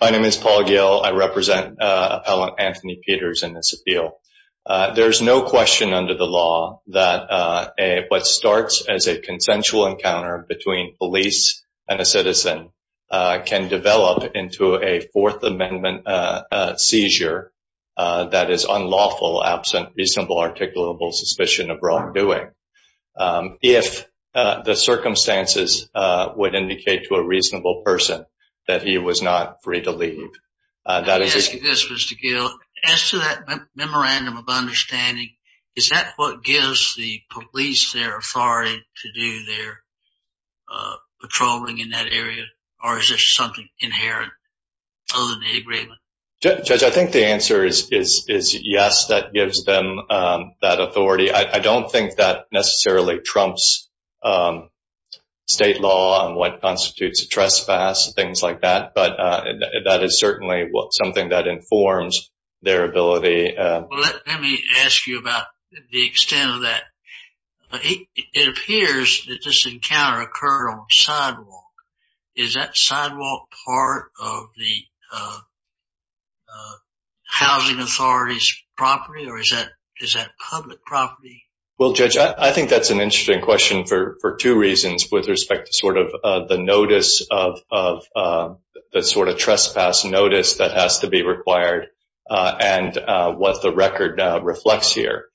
My name is Paul Gill. I represent Appellant Anthony Peters in this appeal. There is no question under the law that what starts as a consensual encounter between police and a citizen can develop into a Fourth Amendment seizure that is unlawful, absent reasonable articulable suspicion of wrongdoing. If the circumstances would indicate to a reasonable person that he was not free to leave. I ask you this, Mr. Gill. As to that memorandum of understanding, is that what gives the police their authority to do their patrolling in that area? Or is there something inherent other than the agreement? Judge, I think the answer is yes, that gives them that authority. I don't think that necessarily trumps state law on what constitutes a trespass, things like that. But that is certainly something that informs their ability. Let me ask you about the extent of that. It appears that this encounter occurred on sidewalk. Is that sidewalk part of the housing authority's property or is that public property? Well, Judge, I think that's an interesting question for two reasons with respect to sort of the notice of the sort of trespass notice that has to be required and what the record reflects here.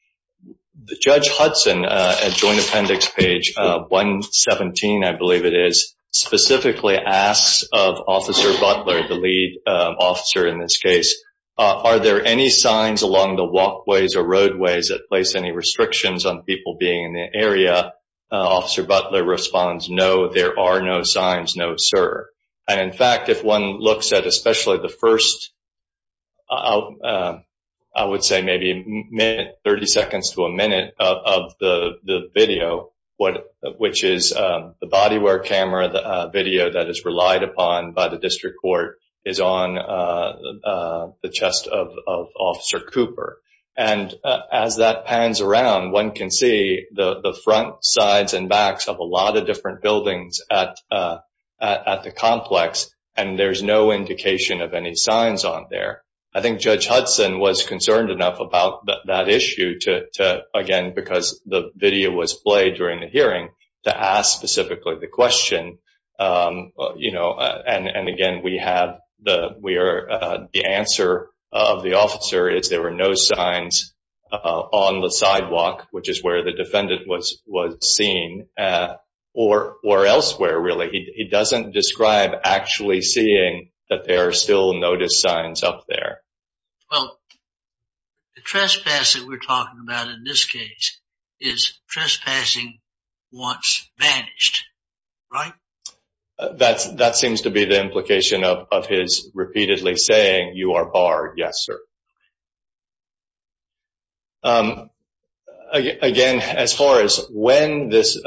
Judge Hudson at Joint Appendix page 117, I believe it is, specifically asks of Officer Butler, the lead officer in this case. Are there any signs along the walkways or roadways that place any restrictions on people being in the area? Officer Butler responds, no, there are no signs, no, sir. And in fact, if one looks at especially the first, I would say maybe minute, 30 seconds to a minute of the video, which is the body wear camera video that is relied upon by the district court is on the chest of Officer Cooper. And as that pans around, one can see the front sides and backs of a lot of different buildings at the complex, and there's no indication of any signs on there. I think Judge Hudson was concerned enough about that issue to, again, because the video was played during the hearing, to ask specifically the question. And again, the answer of the officer is there were no signs on the sidewalk, which is where the defendant was seen, or elsewhere, really. He doesn't describe actually seeing that there are still notice signs up there. Well, the trespassing we're talking about in this case is trespassing once vanished, right? That seems to be the implication of his repeatedly saying you are barred. Yes, sir. Again, as far as when this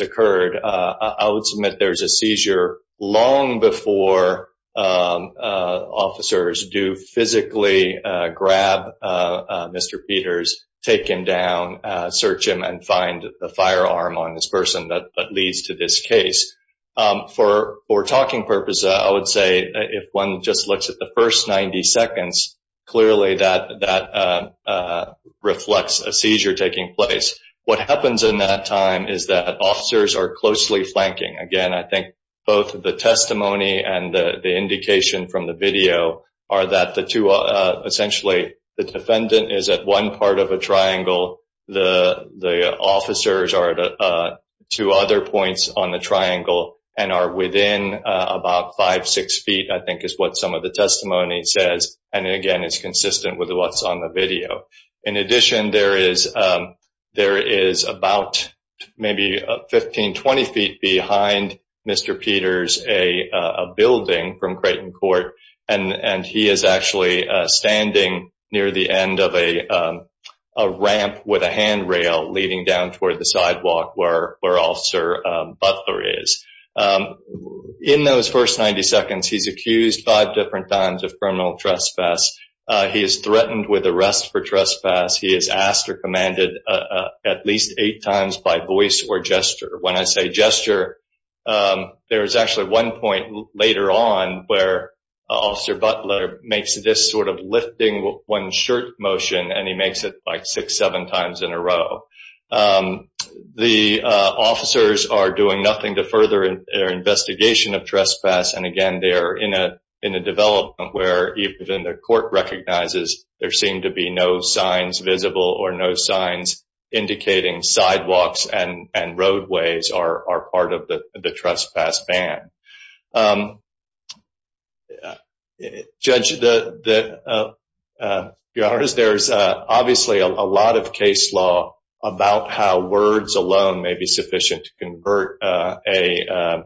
occurred, I would submit there's a seizure long before officers do physically grab Mr. Peters, take him down, search him, and find the firearm on this person that leads to this case. For talking purposes, I would say if one just looks at the first 90 seconds, clearly that reflects a seizure taking place. What happens in that time is that officers are closely flanking. Again, I think both the testimony and the indication from the video are that essentially the defendant is at one part of a triangle. The officers are at two other points on the triangle and are within about five, six feet, I think is what some of the testimony says. And again, it's consistent with what's on the video. In addition, there is about maybe 15, 20 feet behind Mr. Peters a building from Creighton Court, and he is actually standing near the end of a ramp with a handrail leading down toward the sidewalk where Officer Butler is. In those first 90 seconds, he's accused five different times of criminal trespass. He is threatened with arrest for trespass. He is asked or commanded at least eight times by voice or gesture. When I say gesture, there is actually one point later on where Officer Butler makes this sort of lifting one shirt motion, and he makes it like six, seven times in a row. The officers are doing nothing to further their investigation of trespass. And again, they are in a development where even the court recognizes there seem to be no signs visible or no signs indicating sidewalks and roadways are part of the trespass ban. Judge, there's obviously a lot of case law about how words alone may be sufficient to convert a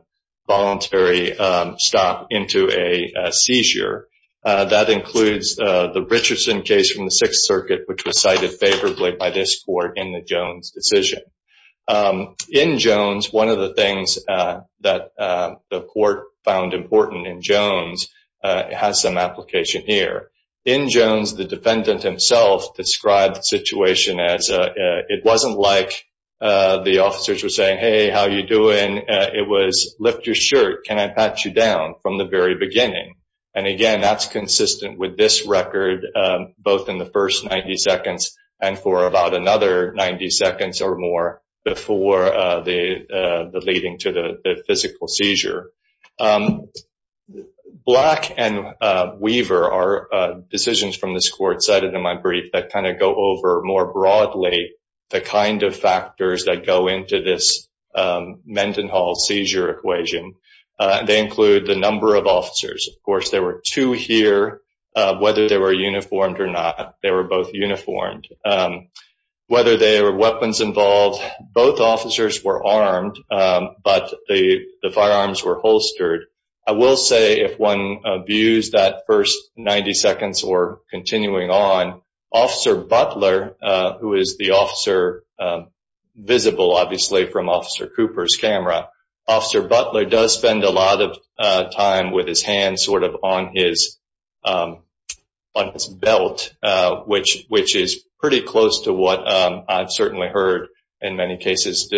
voluntary stop into a seizure. That includes the Richardson case from the Sixth Circuit, which was cited favorably by this court in the Jones decision. In Jones, one of the things that the court found important in Jones has some application here. In Jones, the defendant himself described the situation as it wasn't like the officers were saying, hey, how are you doing? It was lift your shirt. Can I pat you down from the very beginning? And again, that's consistent with this record, both in the first 90 seconds and for about another 90 seconds or more before the leading to the physical seizure. Black and Weaver are decisions from this court cited in my brief that kind of go over more broadly the kind of factors that go into this Mendenhall seizure equation. They include the number of officers. Of course, there were two here. Whether they were uniformed or not, they were both uniformed. Whether they were weapons involved, both officers were armed, but the firearms were holstered. I will say, if one views that first 90 seconds or continuing on, Officer Butler, who is the officer visible, obviously, from Officer Cooper's camera, Officer Butler does spend a lot of time with his hands sort of on his belt, which is pretty close to what I've certainly heard in many cases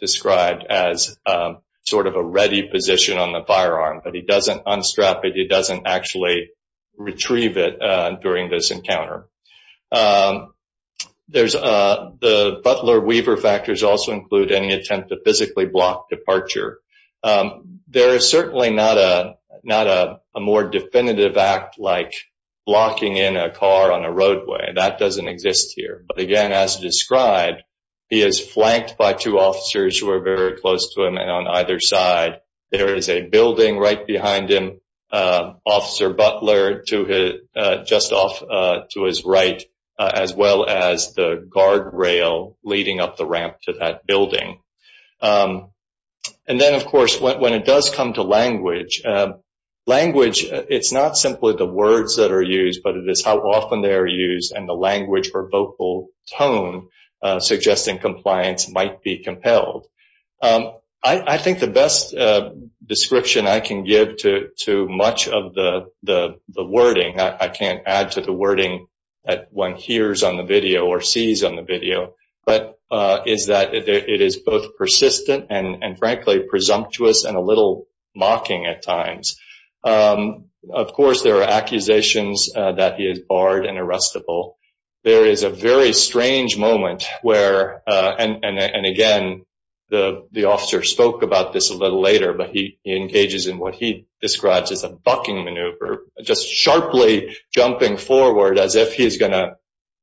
described as sort of a ready position on the firearm. But he doesn't unstrap it. He doesn't actually retrieve it during this encounter. The Butler-Weaver factors also include any attempt to physically block departure. There is certainly not a more definitive act like blocking in a car on a roadway. That doesn't exist here. But, again, as described, he is flanked by two officers who are very close to him. And on either side, there is a building right behind him, Officer Butler just off to his right, as well as the guardrail leading up the ramp to that building. And then, of course, when it does come to language, it's not simply the words that are used, but it is how often they are used and the language or vocal tone suggesting compliance might be compelled. I think the best description I can give to much of the wording, I can't add to the wording that one hears on the video or sees on the video, but is that it is both persistent and, frankly, presumptuous and a little mocking at times. Of course, there are accusations that he is barred and arrestable. There is a very strange moment where, and, again, the officer spoke about this a little later, but he engages in what he describes as a bucking maneuver, just sharply jumping forward as if he is going to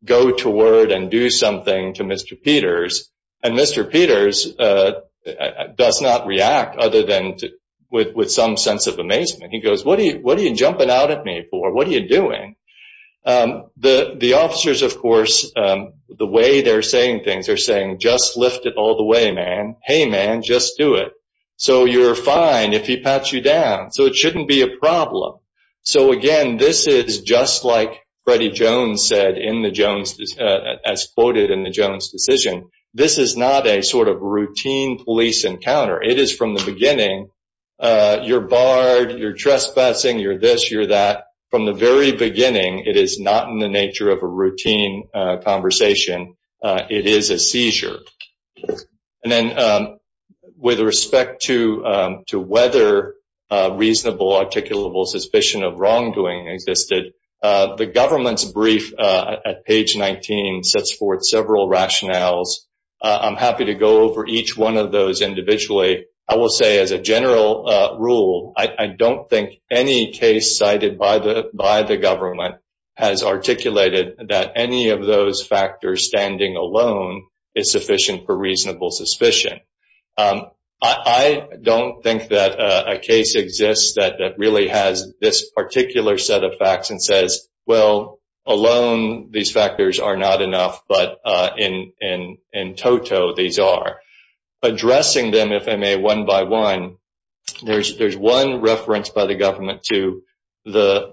go to word and do something to Mr. Peters. And Mr. Peters does not react other than with some sense of amazement. He goes, what are you jumping out at me for? What are you doing? The officers, of course, the way they're saying things, they're saying, just lift it all the way, man. Hey, man, just do it. So you're fine if he pats you down. So it shouldn't be a problem. So, again, this is just like Freddie Jones said in the Jones, as quoted in the Jones decision. This is not a sort of routine police encounter. It is from the beginning. You're barred, you're trespassing, you're this, you're that. From the very beginning, it is not in the nature of a routine conversation. It is a seizure. And then with respect to whether reasonable, articulable suspicion of wrongdoing existed, the government's brief at page 19 sets forth several rationales. I'm happy to go over each one of those individually. I will say as a general rule, I don't think any case cited by the government has articulated that any of those factors standing alone is sufficient for reasonable suspicion. I don't think that a case exists that really has this particular set of facts and says, well, alone, these factors are not enough, but in toto, these are. Addressing them, if I may, one by one, there's one reference by the government to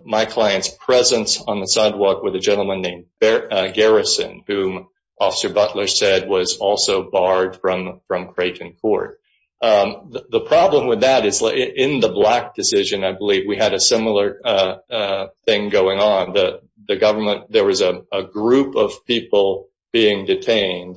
my client's presence on the sidewalk with a gentleman named Garrison, whom Officer Butler said was also barred from Creighton Court. The problem with that is in the Black decision, I believe, we had a similar thing going on. There was a group of people being detained,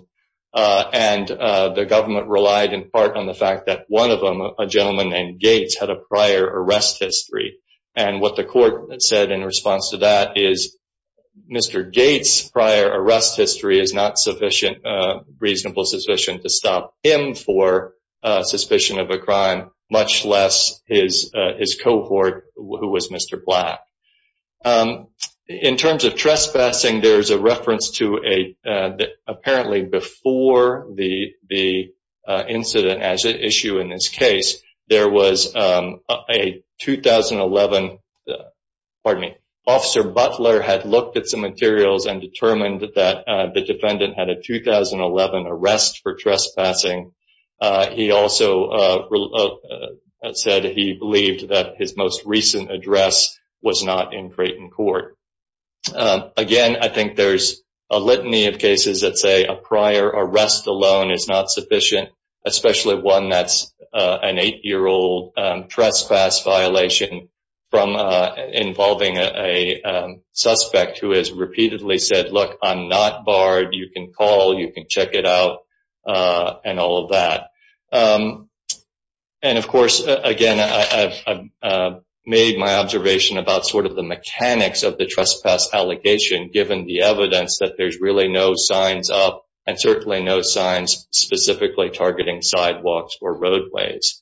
and the government relied in part on the fact that one of them, a gentleman named Gates, had a prior arrest history. What the court said in response to that is Mr. Gates' prior arrest history is not reasonable sufficient to stop him for suspicion of a crime, much less his cohort, who was Mr. Black. In terms of trespassing, there's a reference to apparently before the incident as an issue in this case, there was a 2011, pardon me, Officer Butler had looked at some materials and determined that the defendant had a 2011 arrest for trespassing. He also said he believed that his most recent address was not in Creighton Court. Again, I think there's a litany of cases that say a prior arrest alone is not sufficient, especially one that's an eight-year-old trespass violation involving a suspect who has repeatedly said, look, I'm not barred, you can call, you can check it out, and all of that. Of course, again, I've made my observation about sort of the mechanics of the trespass allegation, given the evidence that there's really no signs up, and certainly no signs specifically targeting sidewalks or roadways.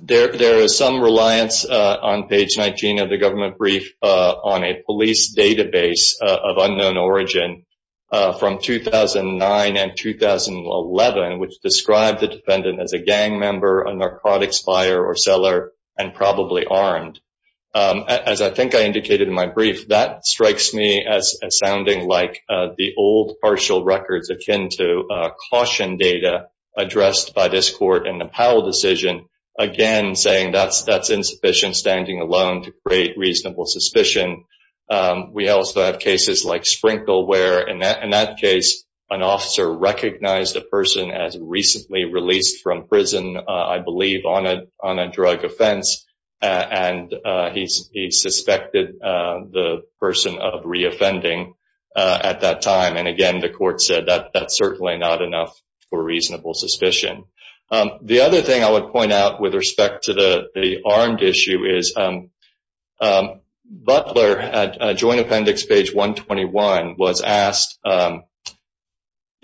There is some reliance on page 19 of the government brief on a police database of unknown origin from 2009 and 2011, which described the defendant as a gang member, a narcotics buyer or seller, and probably armed. As I think I indicated in my brief, that strikes me as sounding like the old partial records akin to caution data addressed by this court in the Powell decision, again saying that's insufficient standing alone to create reasonable suspicion. We also have cases like Sprinkle where, in that case, an officer recognized a person as recently released from prison, I believe on a drug offense, and he suspected the person of reoffending at that time. And again, the court said that's certainly not enough for reasonable suspicion. The other thing I would point out with respect to the armed issue is Butler, at Joint Appendix page 121, was asked,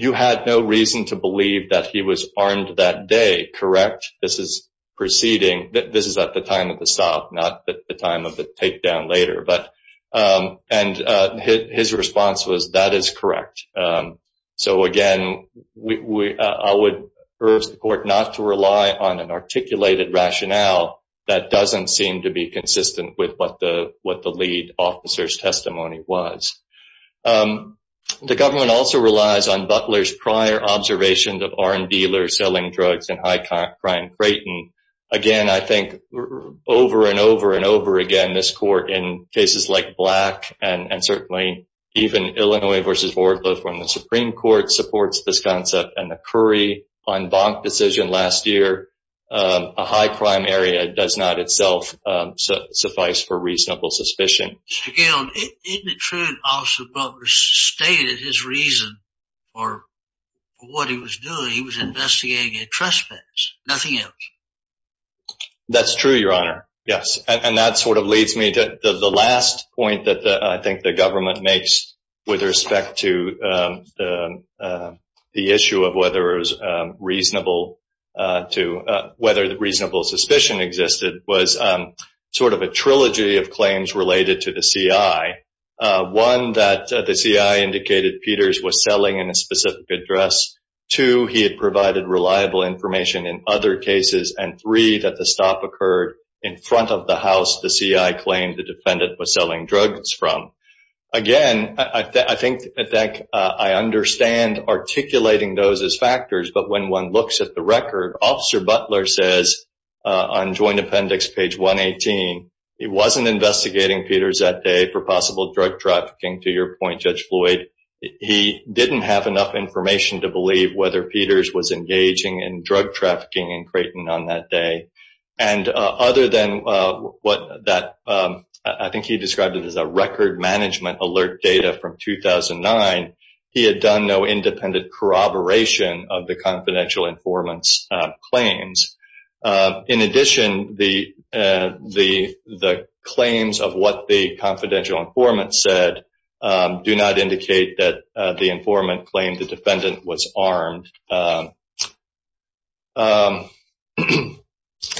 you had no reason to believe that he was armed that day, correct? This is proceeding, this is at the time of the stop, not the time of the takedown later. And his response was, that is correct. So again, I would urge the court not to rely on an articulated rationale that doesn't seem to be consistent with what the lead officer's testimony was. The government also relies on Butler's prior observations of armed dealers selling drugs in high-crime Creighton. Again, I think over and over and over again, this court, in cases like Black and certainly even Illinois v. Wardle, when the Supreme Court supports this concept and the Curry-Von Bonk decision last year, a high-crime area does not itself suffice for reasonable suspicion. Mr. Gill, isn't it true that Officer Butler stated his reason for what he was doing? He was investigating a trespass, nothing else. That's true, Your Honor, yes. And that sort of leads me to the last point that I think the government makes with respect to the issue of whether reasonable suspicion existed, was sort of a trilogy of claims related to the CI. One, that the CI indicated Peters was selling in a specific address. Two, he had provided reliable information in other cases. And three, that the stop occurred in front of the house the CI claimed the defendant was selling drugs from. Again, I think I understand articulating those as factors, but when one looks at the record, Officer Butler says on joint appendix page 118, he wasn't investigating Peters that day for possible drug trafficking. To your point, Judge Floyd, he didn't have enough information to believe whether Peters was engaging in drug trafficking in Creighton on that day. And other than what I think he described as a record management alert data from 2009, he had done no independent corroboration of the confidential informant's claims. In addition, the claims of what the confidential informant said do not indicate that the informant claimed the defendant was armed.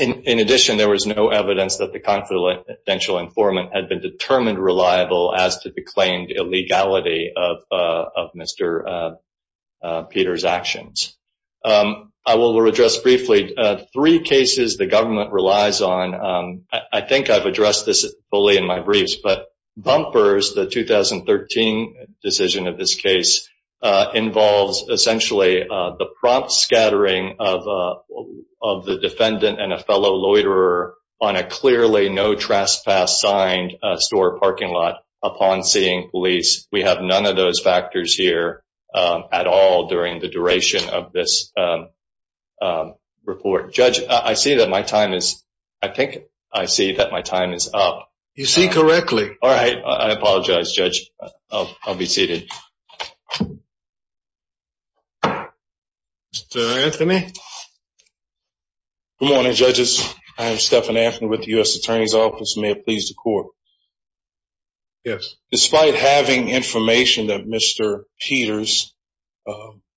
In addition, there was no evidence that the confidential informant had been determined reliable as to the claimed illegality of Mr. Peters' actions. I will address briefly three cases the government relies on. I think I've addressed this fully in my briefs, but Bumpers, the 2013 decision of this case, involves essentially the prompt scattering of the defendant and a fellow loiterer on a clearly no-trespass-signed store parking lot upon seeing police. We have none of those factors here at all during the duration of this report. Judge, I think I see that my time is up. You see correctly. All right, I apologize, Judge. I'll be seated. Mr. Anthony? Good morning, judges. I am Stephan Anthony with the U.S. Attorney's Office. May it please the Court. Yes. Despite having information that Mr. Peters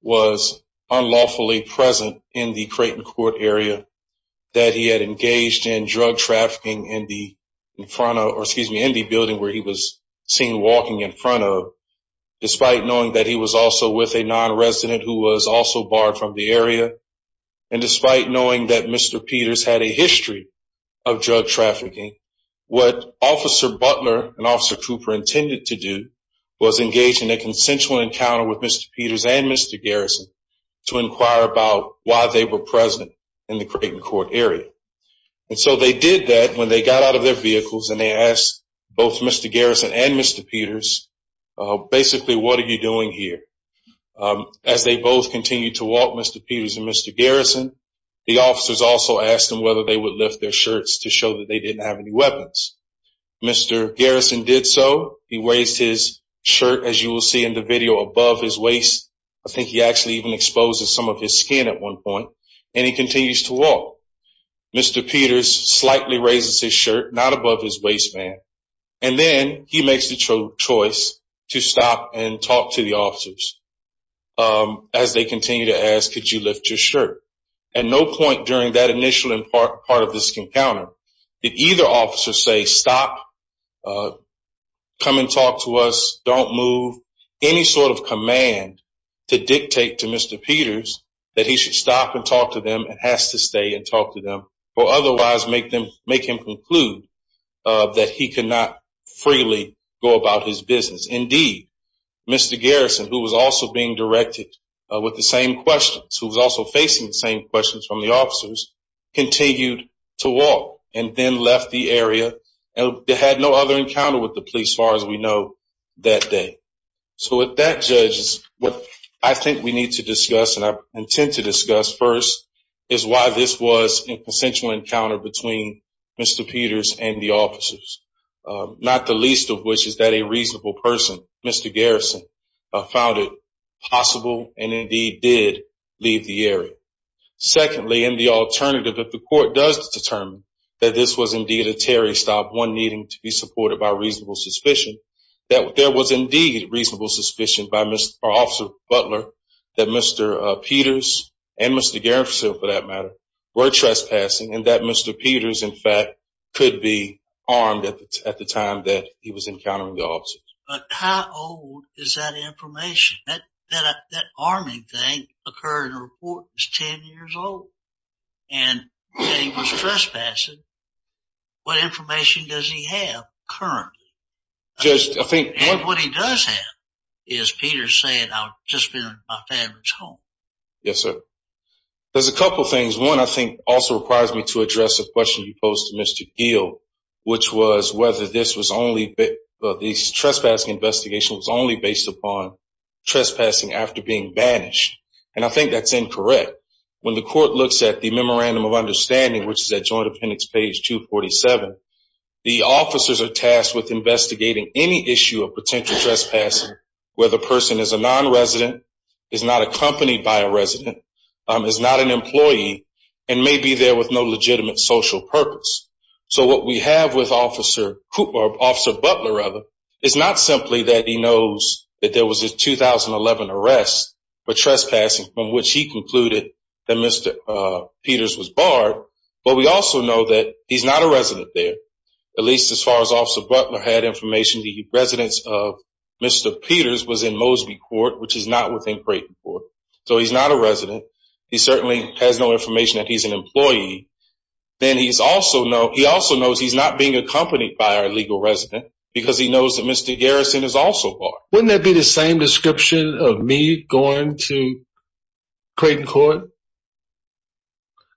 was unlawfully present in the Creighton Court area, that he had engaged in drug trafficking in the building where he was seen walking in front of, despite knowing that he was also with a nonresident who was also barred from the area, and despite knowing that Mr. Peters had a history of drug trafficking, what Officer Butler and Officer Cooper intended to do was engage in a consensual encounter with Mr. Peters and Mr. Garrison to inquire about why they were present in the Creighton Court area. And so they did that when they got out of their vehicles, and they asked both Mr. Garrison and Mr. Peters, basically, what are you doing here? As they both continued to walk, Mr. Peters and Mr. Garrison, the officers also asked them whether they would lift their shirts to show that they didn't have any weapons. Mr. Garrison did so. He raised his shirt, as you will see in the video, above his waist. I think he actually even exposed some of his skin at one point. And he continues to walk. Mr. Peters slightly raises his shirt, not above his waistband. And then he makes the choice to stop and talk to the officers. As they continue to ask, could you lift your shirt? At no point during that initial part of this encounter did either officer say, stop, come and talk to us, don't move, any sort of command to dictate to Mr. Peters that he should stop and talk to them, has to stay and talk to them, or otherwise make him conclude that he cannot freely go about his business. Indeed, Mr. Garrison, who was also being directed with the same questions, who was also facing the same questions from the officers, continued to walk and then left the area. They had no other encounter with the police, as far as we know, that day. So with that, judges, what I think we need to discuss, and I intend to discuss first, is why this was a consensual encounter between Mr. Peters and the officers, not the least of which is that a reasonable person, Mr. Garrison, found it possible and indeed did leave the area. Secondly, and the alternative, if the court does determine that this was indeed a Terry stop, one needing to be supported by reasonable suspicion, that there was indeed reasonable suspicion by Officer Butler that Mr. Peters and Mr. Garrison, for that matter, were trespassing, and that Mr. Peters, in fact, could be armed at the time that he was encountering the officers. But how old is that information? That arming thing occurred in a report that was 10 years old. And that he was trespassing, what information does he have currently? And what he does have is Peters saying, I've just been in my family's home. Yes, sir. There's a couple of things. One, I think, also requires me to address a question you posed to Mr. Geale, which was whether this trespassing investigation was only based upon trespassing after being banished. And I think that's incorrect. When the court looks at the Memorandum of Understanding, which is at Joint Appendix page 247, the officers are tasked with investigating any issue of potential trespassing where the person is a nonresident, is not accompanied by a resident, is not an employee, and may be there with no legitimate social purpose. So what we have with Officer Butler is not simply that he knows that there was a 2011 arrest, but trespassing, from which he concluded that Mr. Peters was barred. But we also know that he's not a resident there, at least as far as Officer Butler had information, the residence of Mr. Peters was in Mosby Court, which is not within Creighton Court. So he's not a resident. He certainly has no information that he's an employee. Then he also knows he's not being accompanied by a legal resident because he knows that Mr. Garrison is also barred. Wouldn't that be the same description of me going to Creighton Court?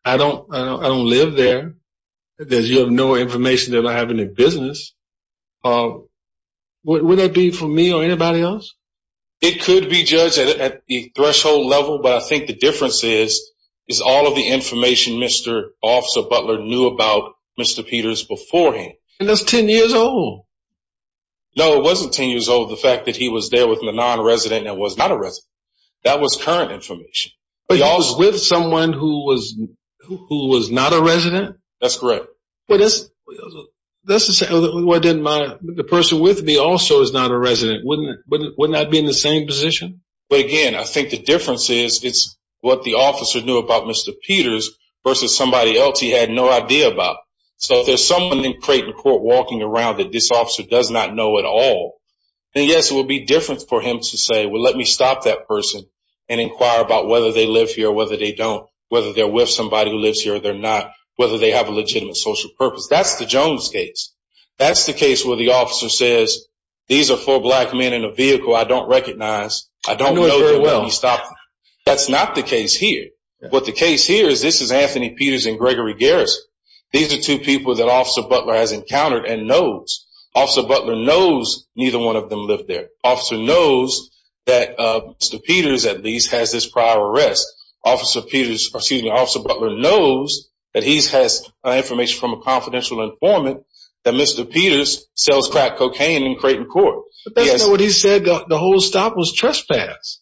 I don't live there. You have no information that I have any business. Wouldn't that be for me or anybody else? It could be judged at the threshold level, but I think the difference is, is all of the information Mr. Officer Butler knew about Mr. Peters beforehand. And that's 10 years old. No, it wasn't 10 years old, the fact that he was there with a non-resident and was not a resident. That was current information. But he was with someone who was not a resident? That's correct. That's the same. The person with me also is not a resident. Wouldn't that be in the same position? But again, I think the difference is, it's what the officer knew about Mr. Peters versus somebody else he had no idea about. So if there's someone in Creighton Court walking around that this officer does not know at all, then yes, it would be different for him to say, well, let me stop that person and inquire about whether they live here or whether they don't, whether they're with somebody who lives here or they're not, whether they have a legitimate social purpose. That's the Jones case. That's the case where the officer says, these are four black men in a vehicle I don't recognize. I don't know them, let me stop them. That's not the case here. What the case here is this is Anthony Peters and Gregory Garrison. These are two people that Officer Butler has encountered and knows. Officer Butler knows neither one of them live there. Officer knows that Mr. Peters at least has this prior arrest. Officer Butler knows that he has information from a confidential informant that Mr. Peters sells crack cocaine in Creighton Court. But that's not what he said. The whole stop was trespass.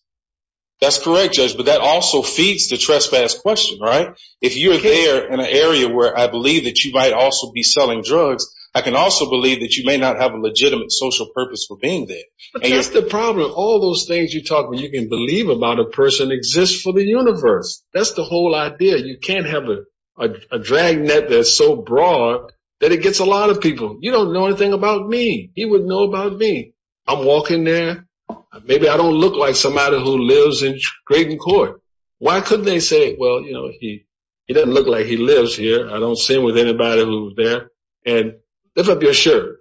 That's correct, Judge, but that also feeds the trespass question, right? If you're there in an area where I believe that you might also be selling drugs, I can also believe that you may not have a legitimate social purpose for being there. That's the problem. All those things you talk when you can believe about a person exists for the universe. That's the whole idea. You can't have a dragnet that's so broad that it gets a lot of people. You don't know anything about me. He would know about me. I'm walking there. Maybe I don't look like somebody who lives in Creighton Court. Why couldn't they say, well, you know, he doesn't look like he lives here. I don't see with anybody who's there. And if I'm sure.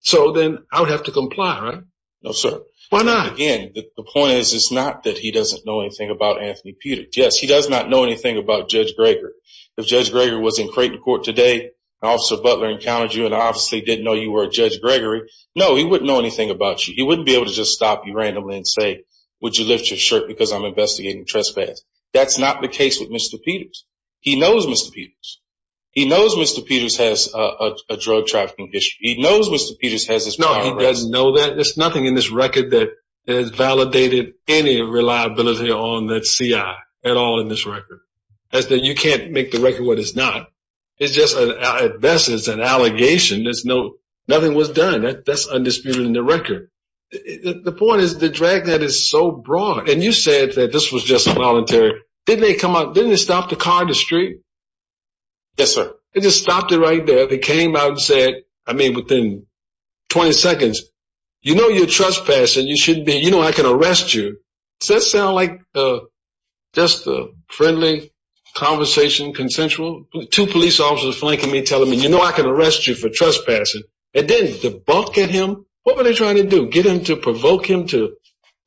So then I would have to comply, right? No, sir. Why not? The point is, it's not that he doesn't know anything about Anthony Peter. Yes, he does not know anything about Judge Gregor. If Judge Gregor was in Creighton Court today, Officer Butler encountered you and obviously didn't know you were Judge Gregory. No, he wouldn't know anything about you. He wouldn't be able to just stop you randomly and say, would you lift your shirt? Because I'm investigating trespass. That's not the case with Mr. Peters. He knows Mr. Peters. He knows Mr. Peters has a drug trafficking issue. He knows Mr. Peters has his. No, he doesn't know that. There's nothing in this record that has validated any reliability on that CI at all in this record. That's that you can't make the record. What is not? It's just a, this is an allegation. There's no, nothing was done. That's undisputed in the record. The point is the drag that is so broad. And you said that this was just voluntary. Didn't they come out? Didn't they stop the car in the street? Yes, sir. They just stopped it right there. They came out and said, I mean, within 20 seconds, you know, you're trespassing. You should be, you know, I can arrest you. Does that sound like just a friendly conversation? Consensual to police officers flanking me, telling me, you know, I can arrest you for trespassing. It didn't debunk at him. What were they trying to do? Get him to provoke him to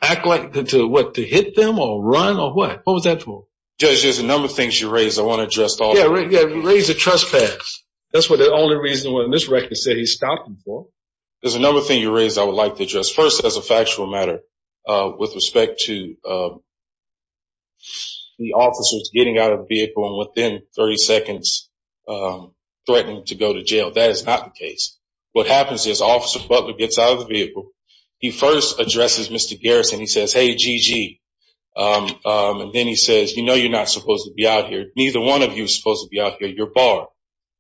act like the, to what? To hit them or run or what? What was that for? Judge, there's a number of things you raised. I want to address. Yeah. Raise the trespass. That's what the only reason when this record said he stopped before. There's a number of things you raised. I would like to address first as a factual matter with respect to the officers getting out of the vehicle and within 30 seconds threatening to go to jail. That is not the case. What happens is Officer Butler gets out of the vehicle. He first addresses Mr. Garrison. He says, hey, GG. And then he says, you know, you're not supposed to be out here. Neither one of you is supposed to be out here. You're barred,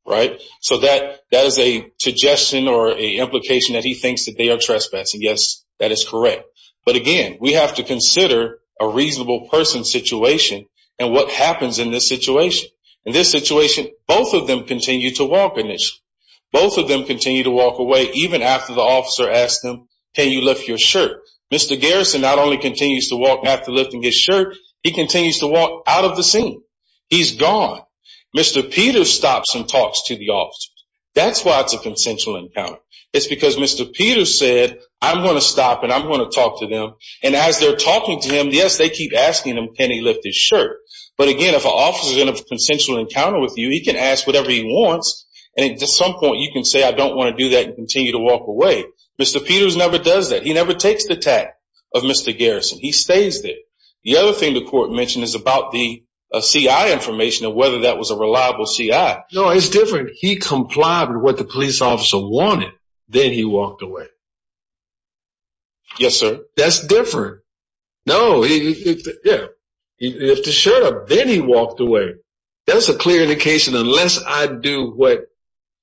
right? So that is a suggestion or an implication that he thinks that they are trespassing. Yes, that is correct. But, again, we have to consider a reasonable person situation and what happens in this situation. In this situation, both of them continue to walk initially. Both of them continue to walk away even after the officer asks them, can you lift your shirt? Mr. Garrison not only continues to walk after lifting his shirt, he continues to walk out of the scene. He's gone. Mr. Peter stops and talks to the officers. That's why it's a consensual encounter. It's because Mr. Peter said, I'm going to stop and I'm going to talk to them. And as they're talking to him, yes, they keep asking him can he lift his shirt. But, again, if an officer is in a consensual encounter with you, he can ask whatever he wants, and at some point you can say I don't want to do that and continue to walk away. Mr. Peters never does that. He never takes the tack of Mr. Garrison. He stays there. The other thing the court mentioned is about the CI information and whether that was a reliable CI. No, it's different. He complied with what the police officer wanted. Then he walked away. Yes, sir. That's different. No, yeah. If the shirt up, then he walked away. That's a clear indication unless I do what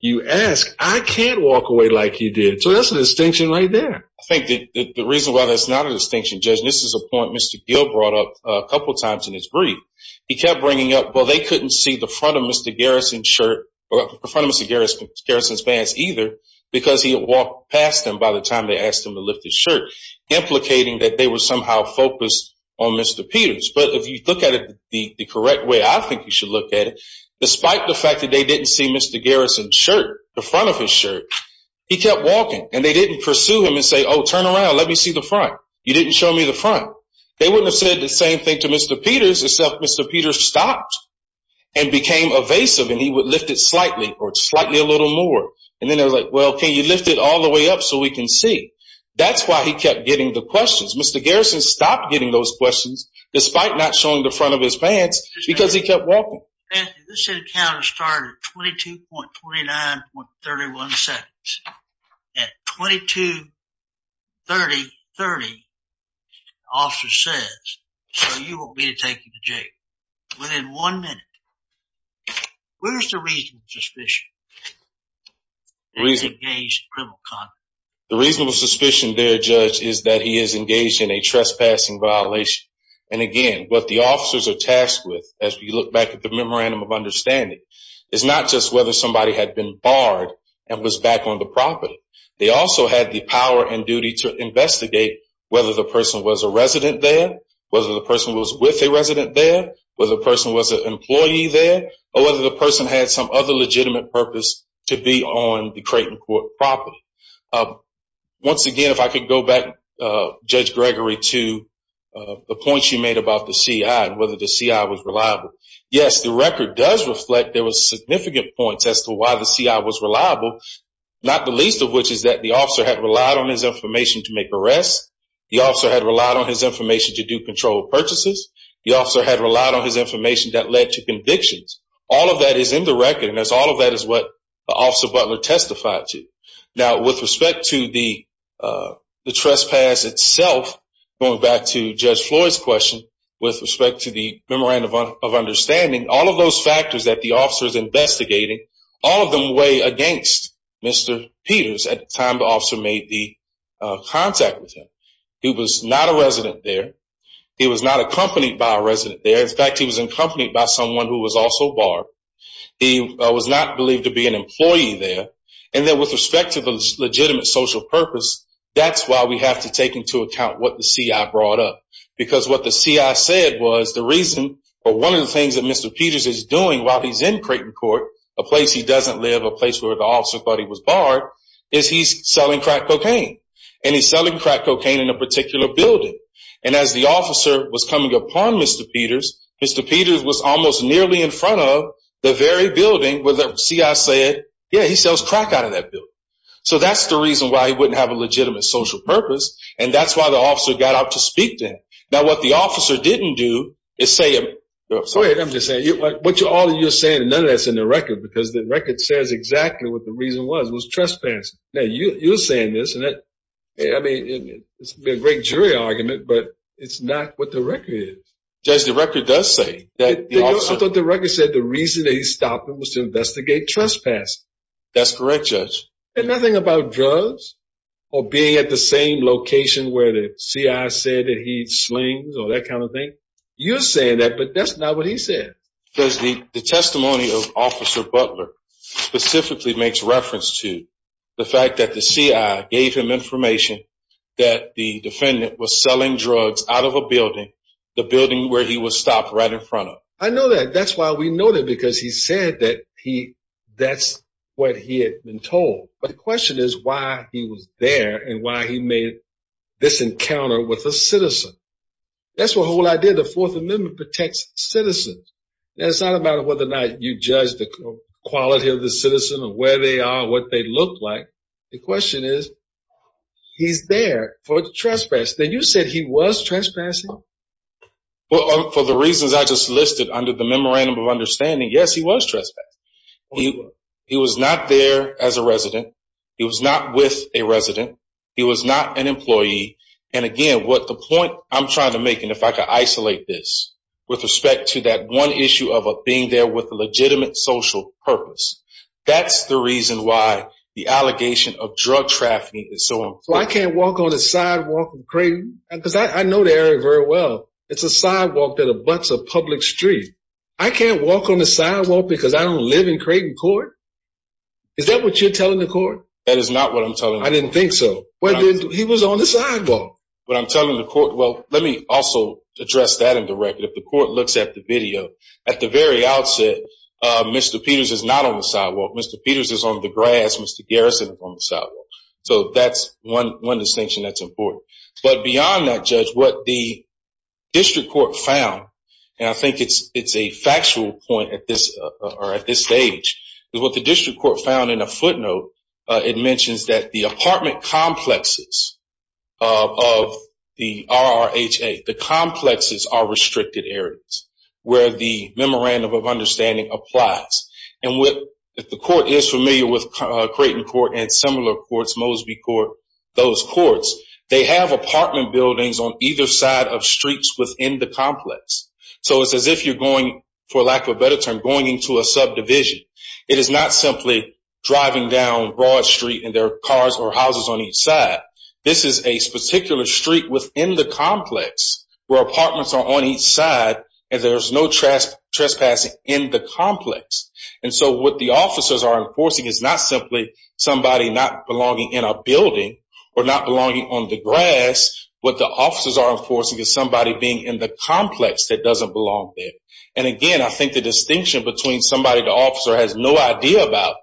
you ask, I can't walk away like you did. So that's a distinction right there. I think the reason why that's not a distinction, Judge, and this is a point Mr. Gill brought up a couple times in his brief, he kept bringing up, well, they couldn't see the front of Mr. Garrison's shirt or the front of Mr. Garrison's pants either because he had walked past them by the time they asked him to lift his shirt, implicating that they were somehow focused on Mr. Peters. But if you look at it the correct way, I think you should look at it, despite the fact that they didn't see Mr. Garrison's shirt, the front of his shirt, he kept walking. And they didn't pursue him and say, oh, turn around, let me see the front. You didn't show me the front. They wouldn't have said the same thing to Mr. Peters, except Mr. Peters stopped and became evasive and he would lift it slightly or slightly a little more. And then they were like, well, can you lift it all the way up so we can see? That's why he kept getting the questions. Mr. Garrison stopped getting those questions, despite not showing the front of his pants, because he kept walking. This encounter started at 22.29.31 seconds. At 22.30.30, the officer says, so you want me to take you to jail. Within one minute. Where's the reasonable suspicion? The reasonable suspicion there, Judge, is that he is engaged in a trespassing violation. And, again, what the officers are tasked with, as we look back at the memorandum of understanding, is not just whether somebody had been barred and was back on the property. They also had the power and duty to investigate whether the person was a resident there, whether the person was with a resident there, whether the person was an employee there, or whether the person had some other legitimate purpose to be on the Creighton Court property. Once again, if I could go back, Judge Gregory, to the points you made about the C.I. and whether the C.I. was reliable. Yes, the record does reflect there was significant points as to why the C.I. was reliable, not the least of which is that the officer had relied on his information to make arrests. The officer had relied on his information to do controlled purchases. The officer had relied on his information that led to convictions. All of that is in the record, and all of that is what Officer Butler testified to. Now, with respect to the trespass itself, going back to Judge Floyd's question, with respect to the memorandum of understanding, all of those factors that the officer is investigating, all of them weigh against Mr. Peters at the time the officer made the contact with him. He was not a resident there. He was not accompanied by a resident there. In fact, he was accompanied by someone who was also barred. He was not believed to be an employee there. And then with respect to the legitimate social purpose, that's why we have to take into account what the C.I. brought up. Because what the C.I. said was the reason, or one of the things that Mr. Peters is doing while he's in Creighton Court, a place he doesn't live, a place where the officer thought he was barred, is he's selling crack cocaine. And he's selling crack cocaine in a particular building. And as the officer was coming upon Mr. Peters, Mr. Peters was almost nearly in front of the very building where the C.I. said, yeah, he sells crack out of that building. So that's the reason why he wouldn't have a legitimate social purpose, and that's why the officer got out to speak to him. Now, what the officer didn't do is say – Wait, I'm just saying, what you're saying, none of that's in the record, because the record says exactly what the reason was, was trespassing. Now, you're saying this, and I mean, it's a great jury argument, but it's not what the record is. Judge, the record does say that the officer – The record said the reason that he stopped him was to investigate trespassing. That's correct, Judge. And nothing about drugs or being at the same location where the C.I. said that he slings or that kind of thing. You're saying that, but that's not what he said. Because the testimony of Officer Butler specifically makes reference to the fact that the C.I. gave him information that the defendant was selling drugs out of a building, the building where he was stopped, right in front of. I know that. That's why we know that, because he said that that's what he had been told. But the question is why he was there and why he made this encounter with a citizen. That's the whole idea. The Fourth Amendment protects citizens. It's not about whether or not you judge the quality of the citizen or where they are or what they look like. The question is, he's there for trespass. Now, you said he was trespassing. Well, for the reasons I just listed under the memorandum of understanding, yes, he was trespassing. He was not there as a resident. He was not with a resident. He was not an employee. And again, what the point I'm trying to make, and if I could isolate this, with respect to that one issue of being there with a legitimate social purpose, that's the reason why the allegation of drug trafficking is so important. So I can't walk on the sidewalk of Creighton? Because I know the area very well. It's a sidewalk that abuts a public street. I can't walk on the sidewalk because I don't live in Creighton Court? Is that what you're telling the court? That is not what I'm telling the court. I didn't think so. He was on the sidewalk. What I'm telling the court, well, let me also address that in the record. If the court looks at the video, at the very outset, Mr. Peters is not on the sidewalk. Mr. Peters is on the grass. Mr. Garrison is on the sidewalk. So that's one distinction that's important. But beyond that, Judge, what the district court found, and I think it's a factual point at this stage, is what the district court found in a footnote, it mentions that the apartment complexes of the RRHA, the complexes are restricted areas where the memorandum of understanding applies. And if the court is familiar with Creighton Court and similar courts, Mosby Court, those courts, they have apartment buildings on either side of streets within the complex. So it's as if you're going, for lack of a better term, going into a subdivision. It is not simply driving down Broad Street and there are cars or houses on each side. This is a particular street within the complex where apartments are on each side and there's no trespassing in the complex. And so what the officers are enforcing is not simply somebody not belonging in a building or not belonging on the grass. What the officers are enforcing is somebody being in the complex that doesn't belong there. And, again, I think the distinction between somebody the officer has no idea about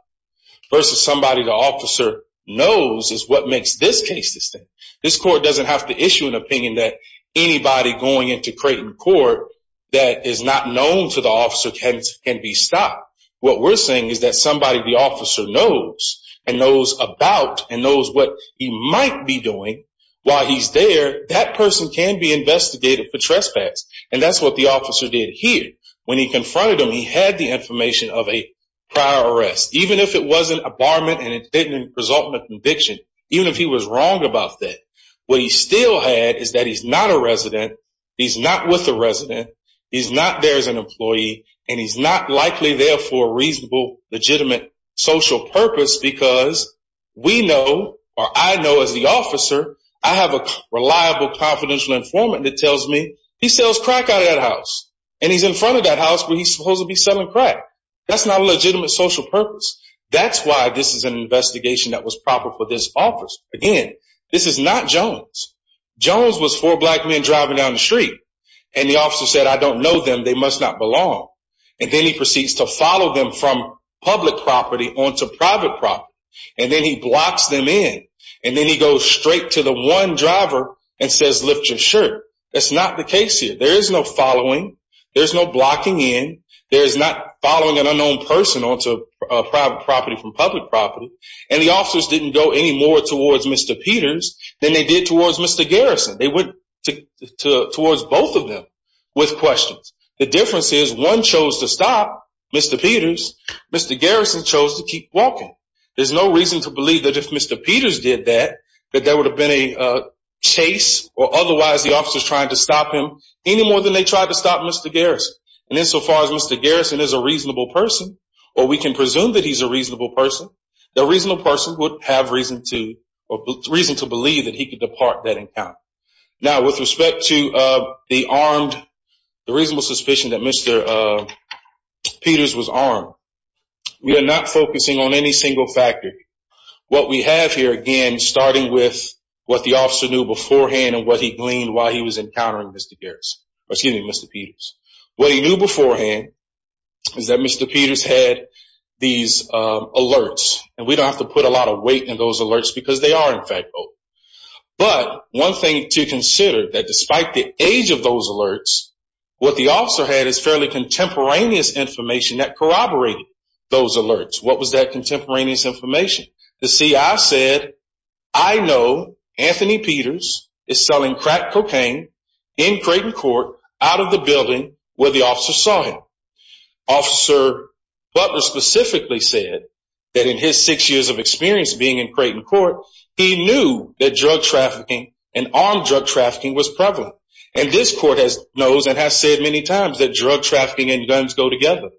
versus somebody the officer knows is what makes this case distinct. This court doesn't have to issue an opinion that anybody going into Creighton Court that is not known to the officer can be stopped. What we're saying is that somebody the officer knows and knows about and knows what he might be doing while he's there, that person can be investigated for trespass. And that's what the officer did here. When he confronted him, he had the information of a prior arrest, even if it wasn't a barment and it didn't result in a conviction, even if he was wrong about that. What he still had is that he's not a resident, he's not with a resident, he's not there as an employee, and he's not likely there for a reasonable, legitimate social purpose because we know, or I know as the officer, I have a reliable, confidential informant that tells me he sells crack out of that house, and he's in front of that house where he's supposed to be selling crack. That's not a legitimate social purpose. That's why this is an investigation that was proper for this office. Again, this is not Jones. Jones was four black men driving down the street, and the officer said, I don't know them, they must not belong. And then he proceeds to follow them from public property onto private property. And then he blocks them in. And then he goes straight to the one driver and says, lift your shirt. That's not the case here. There is no following. There's no blocking in. There is not following an unknown person onto private property from public property. And the officers didn't go any more towards Mr. Peters than they did towards Mr. Garrison. They went towards both of them with questions. The difference is one chose to stop Mr. Peters. Mr. Garrison chose to keep walking. There's no reason to believe that if Mr. Peters did that, that there would have been a chase, or otherwise the officers tried to stop him any more than they tried to stop Mr. Garrison. And insofar as Mr. Garrison is a reasonable person, or we can presume that he's a reasonable person, the reasonable person would have reason to believe that he could depart that encounter. Now, with respect to the reasonable suspicion that Mr. Peters was armed, we are not focusing on any single factor. What we have here, again, starting with what the officer knew beforehand and what he gleaned while he was encountering Mr. Garrison, excuse me, Mr. Peters. What he knew beforehand is that Mr. Peters had these alerts. And we don't have to put a lot of weight in those alerts because they are, in fact, both. But one thing to consider, that despite the age of those alerts, what the officer had is fairly contemporaneous information that corroborated those alerts. What was that contemporaneous information? The CI said, I know Anthony Peters is selling crack cocaine in Creighton Court out of the building where the officer saw him. Officer Butler specifically said that in his six years of experience being in Creighton Court, he knew that drug trafficking and armed drug trafficking was prevalent. And this court knows and has said many times that drug trafficking and guns go together.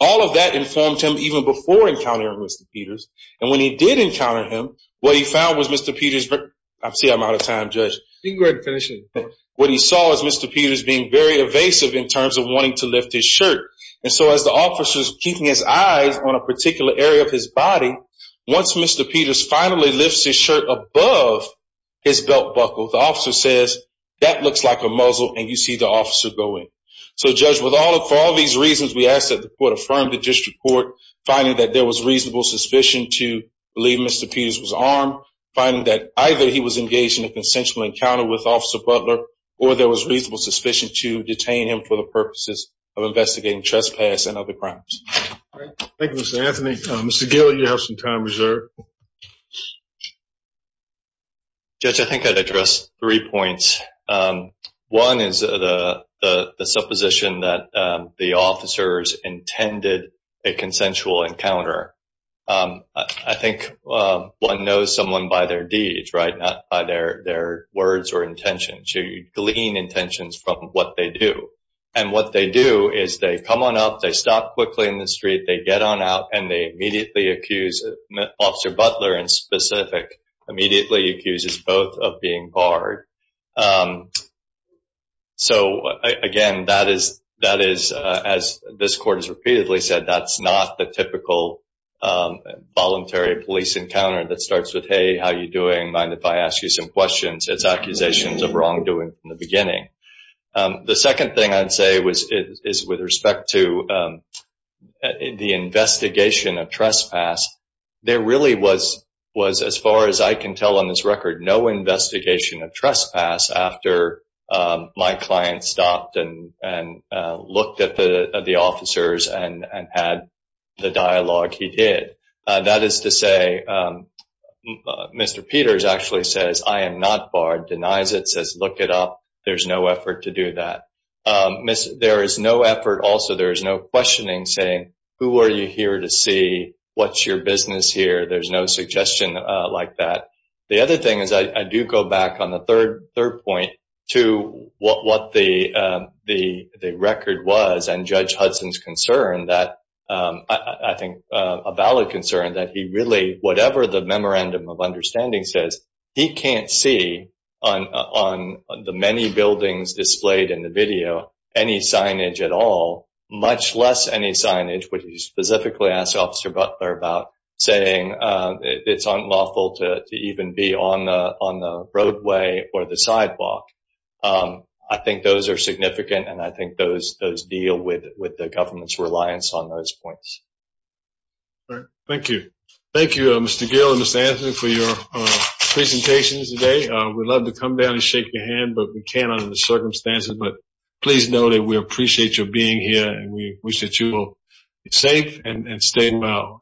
All of that informed him even before encountering Mr. Peters. And when he did encounter him, what he found was Mr. Peters – I see I'm out of time, Judge. You can go ahead and finish it. What he saw is Mr. Peters being very evasive in terms of wanting to lift his shirt. And so as the officer is keeping his eyes on a particular area of his body, once Mr. Peters finally lifts his shirt above his belt buckle, the officer says, that looks like a muzzle and you see the officer go in. So, Judge, for all these reasons, we ask that the court affirm the district court finding that there was reasonable suspicion to believe Mr. Peters was armed, finding that either he was engaged in a consensual encounter with Officer Butler or there was reasonable suspicion to detain him for the purposes of investigating trespass and other crimes. Thank you, Mr. Anthony. Mr. Gill, you have some time reserved. Judge, I think I'd address three points. One is the supposition that the officers intended a consensual encounter. I think one knows someone by their deeds, right, not by their words or intentions. You glean intentions from what they do. And what they do is they come on up, they stop quickly in the street, they get on out, and they immediately accuse Officer Butler in specific, immediately accuses both of being barred. So, again, that is, as this court has repeatedly said, that's not the typical voluntary police encounter that starts with, hey, how are you doing? Mind if I ask you some questions? The second thing I'd say is with respect to the investigation of trespass, there really was, as far as I can tell on this record, no investigation of trespass after my client stopped and looked at the officers and had the dialogue he did. That is to say, Mr. Peters actually says, I am not barred, denies it, says, look it up. There's no effort to do that. There is no effort also, there is no questioning saying, who are you here to see? What's your business here? There's no suggestion like that. The other thing is I do go back on the third point to what the record was and Judge Hudson's concern that, I think a valid concern, that he really, whatever the memorandum of understanding says, he can't see on the many buildings displayed in the video any signage at all, much less any signage where he specifically asked Officer Butler about saying it's unlawful to even be on the roadway or the sidewalk. I think those are significant, and I think those deal with the government's reliance on those points. Thank you. Thank you, Mr. Gill and Ms. Anthony, for your presentations today. We'd love to come down and shake your hand, but we can't under the circumstances. But please know that we appreciate your being here, and we wish that you will be safe and stay well.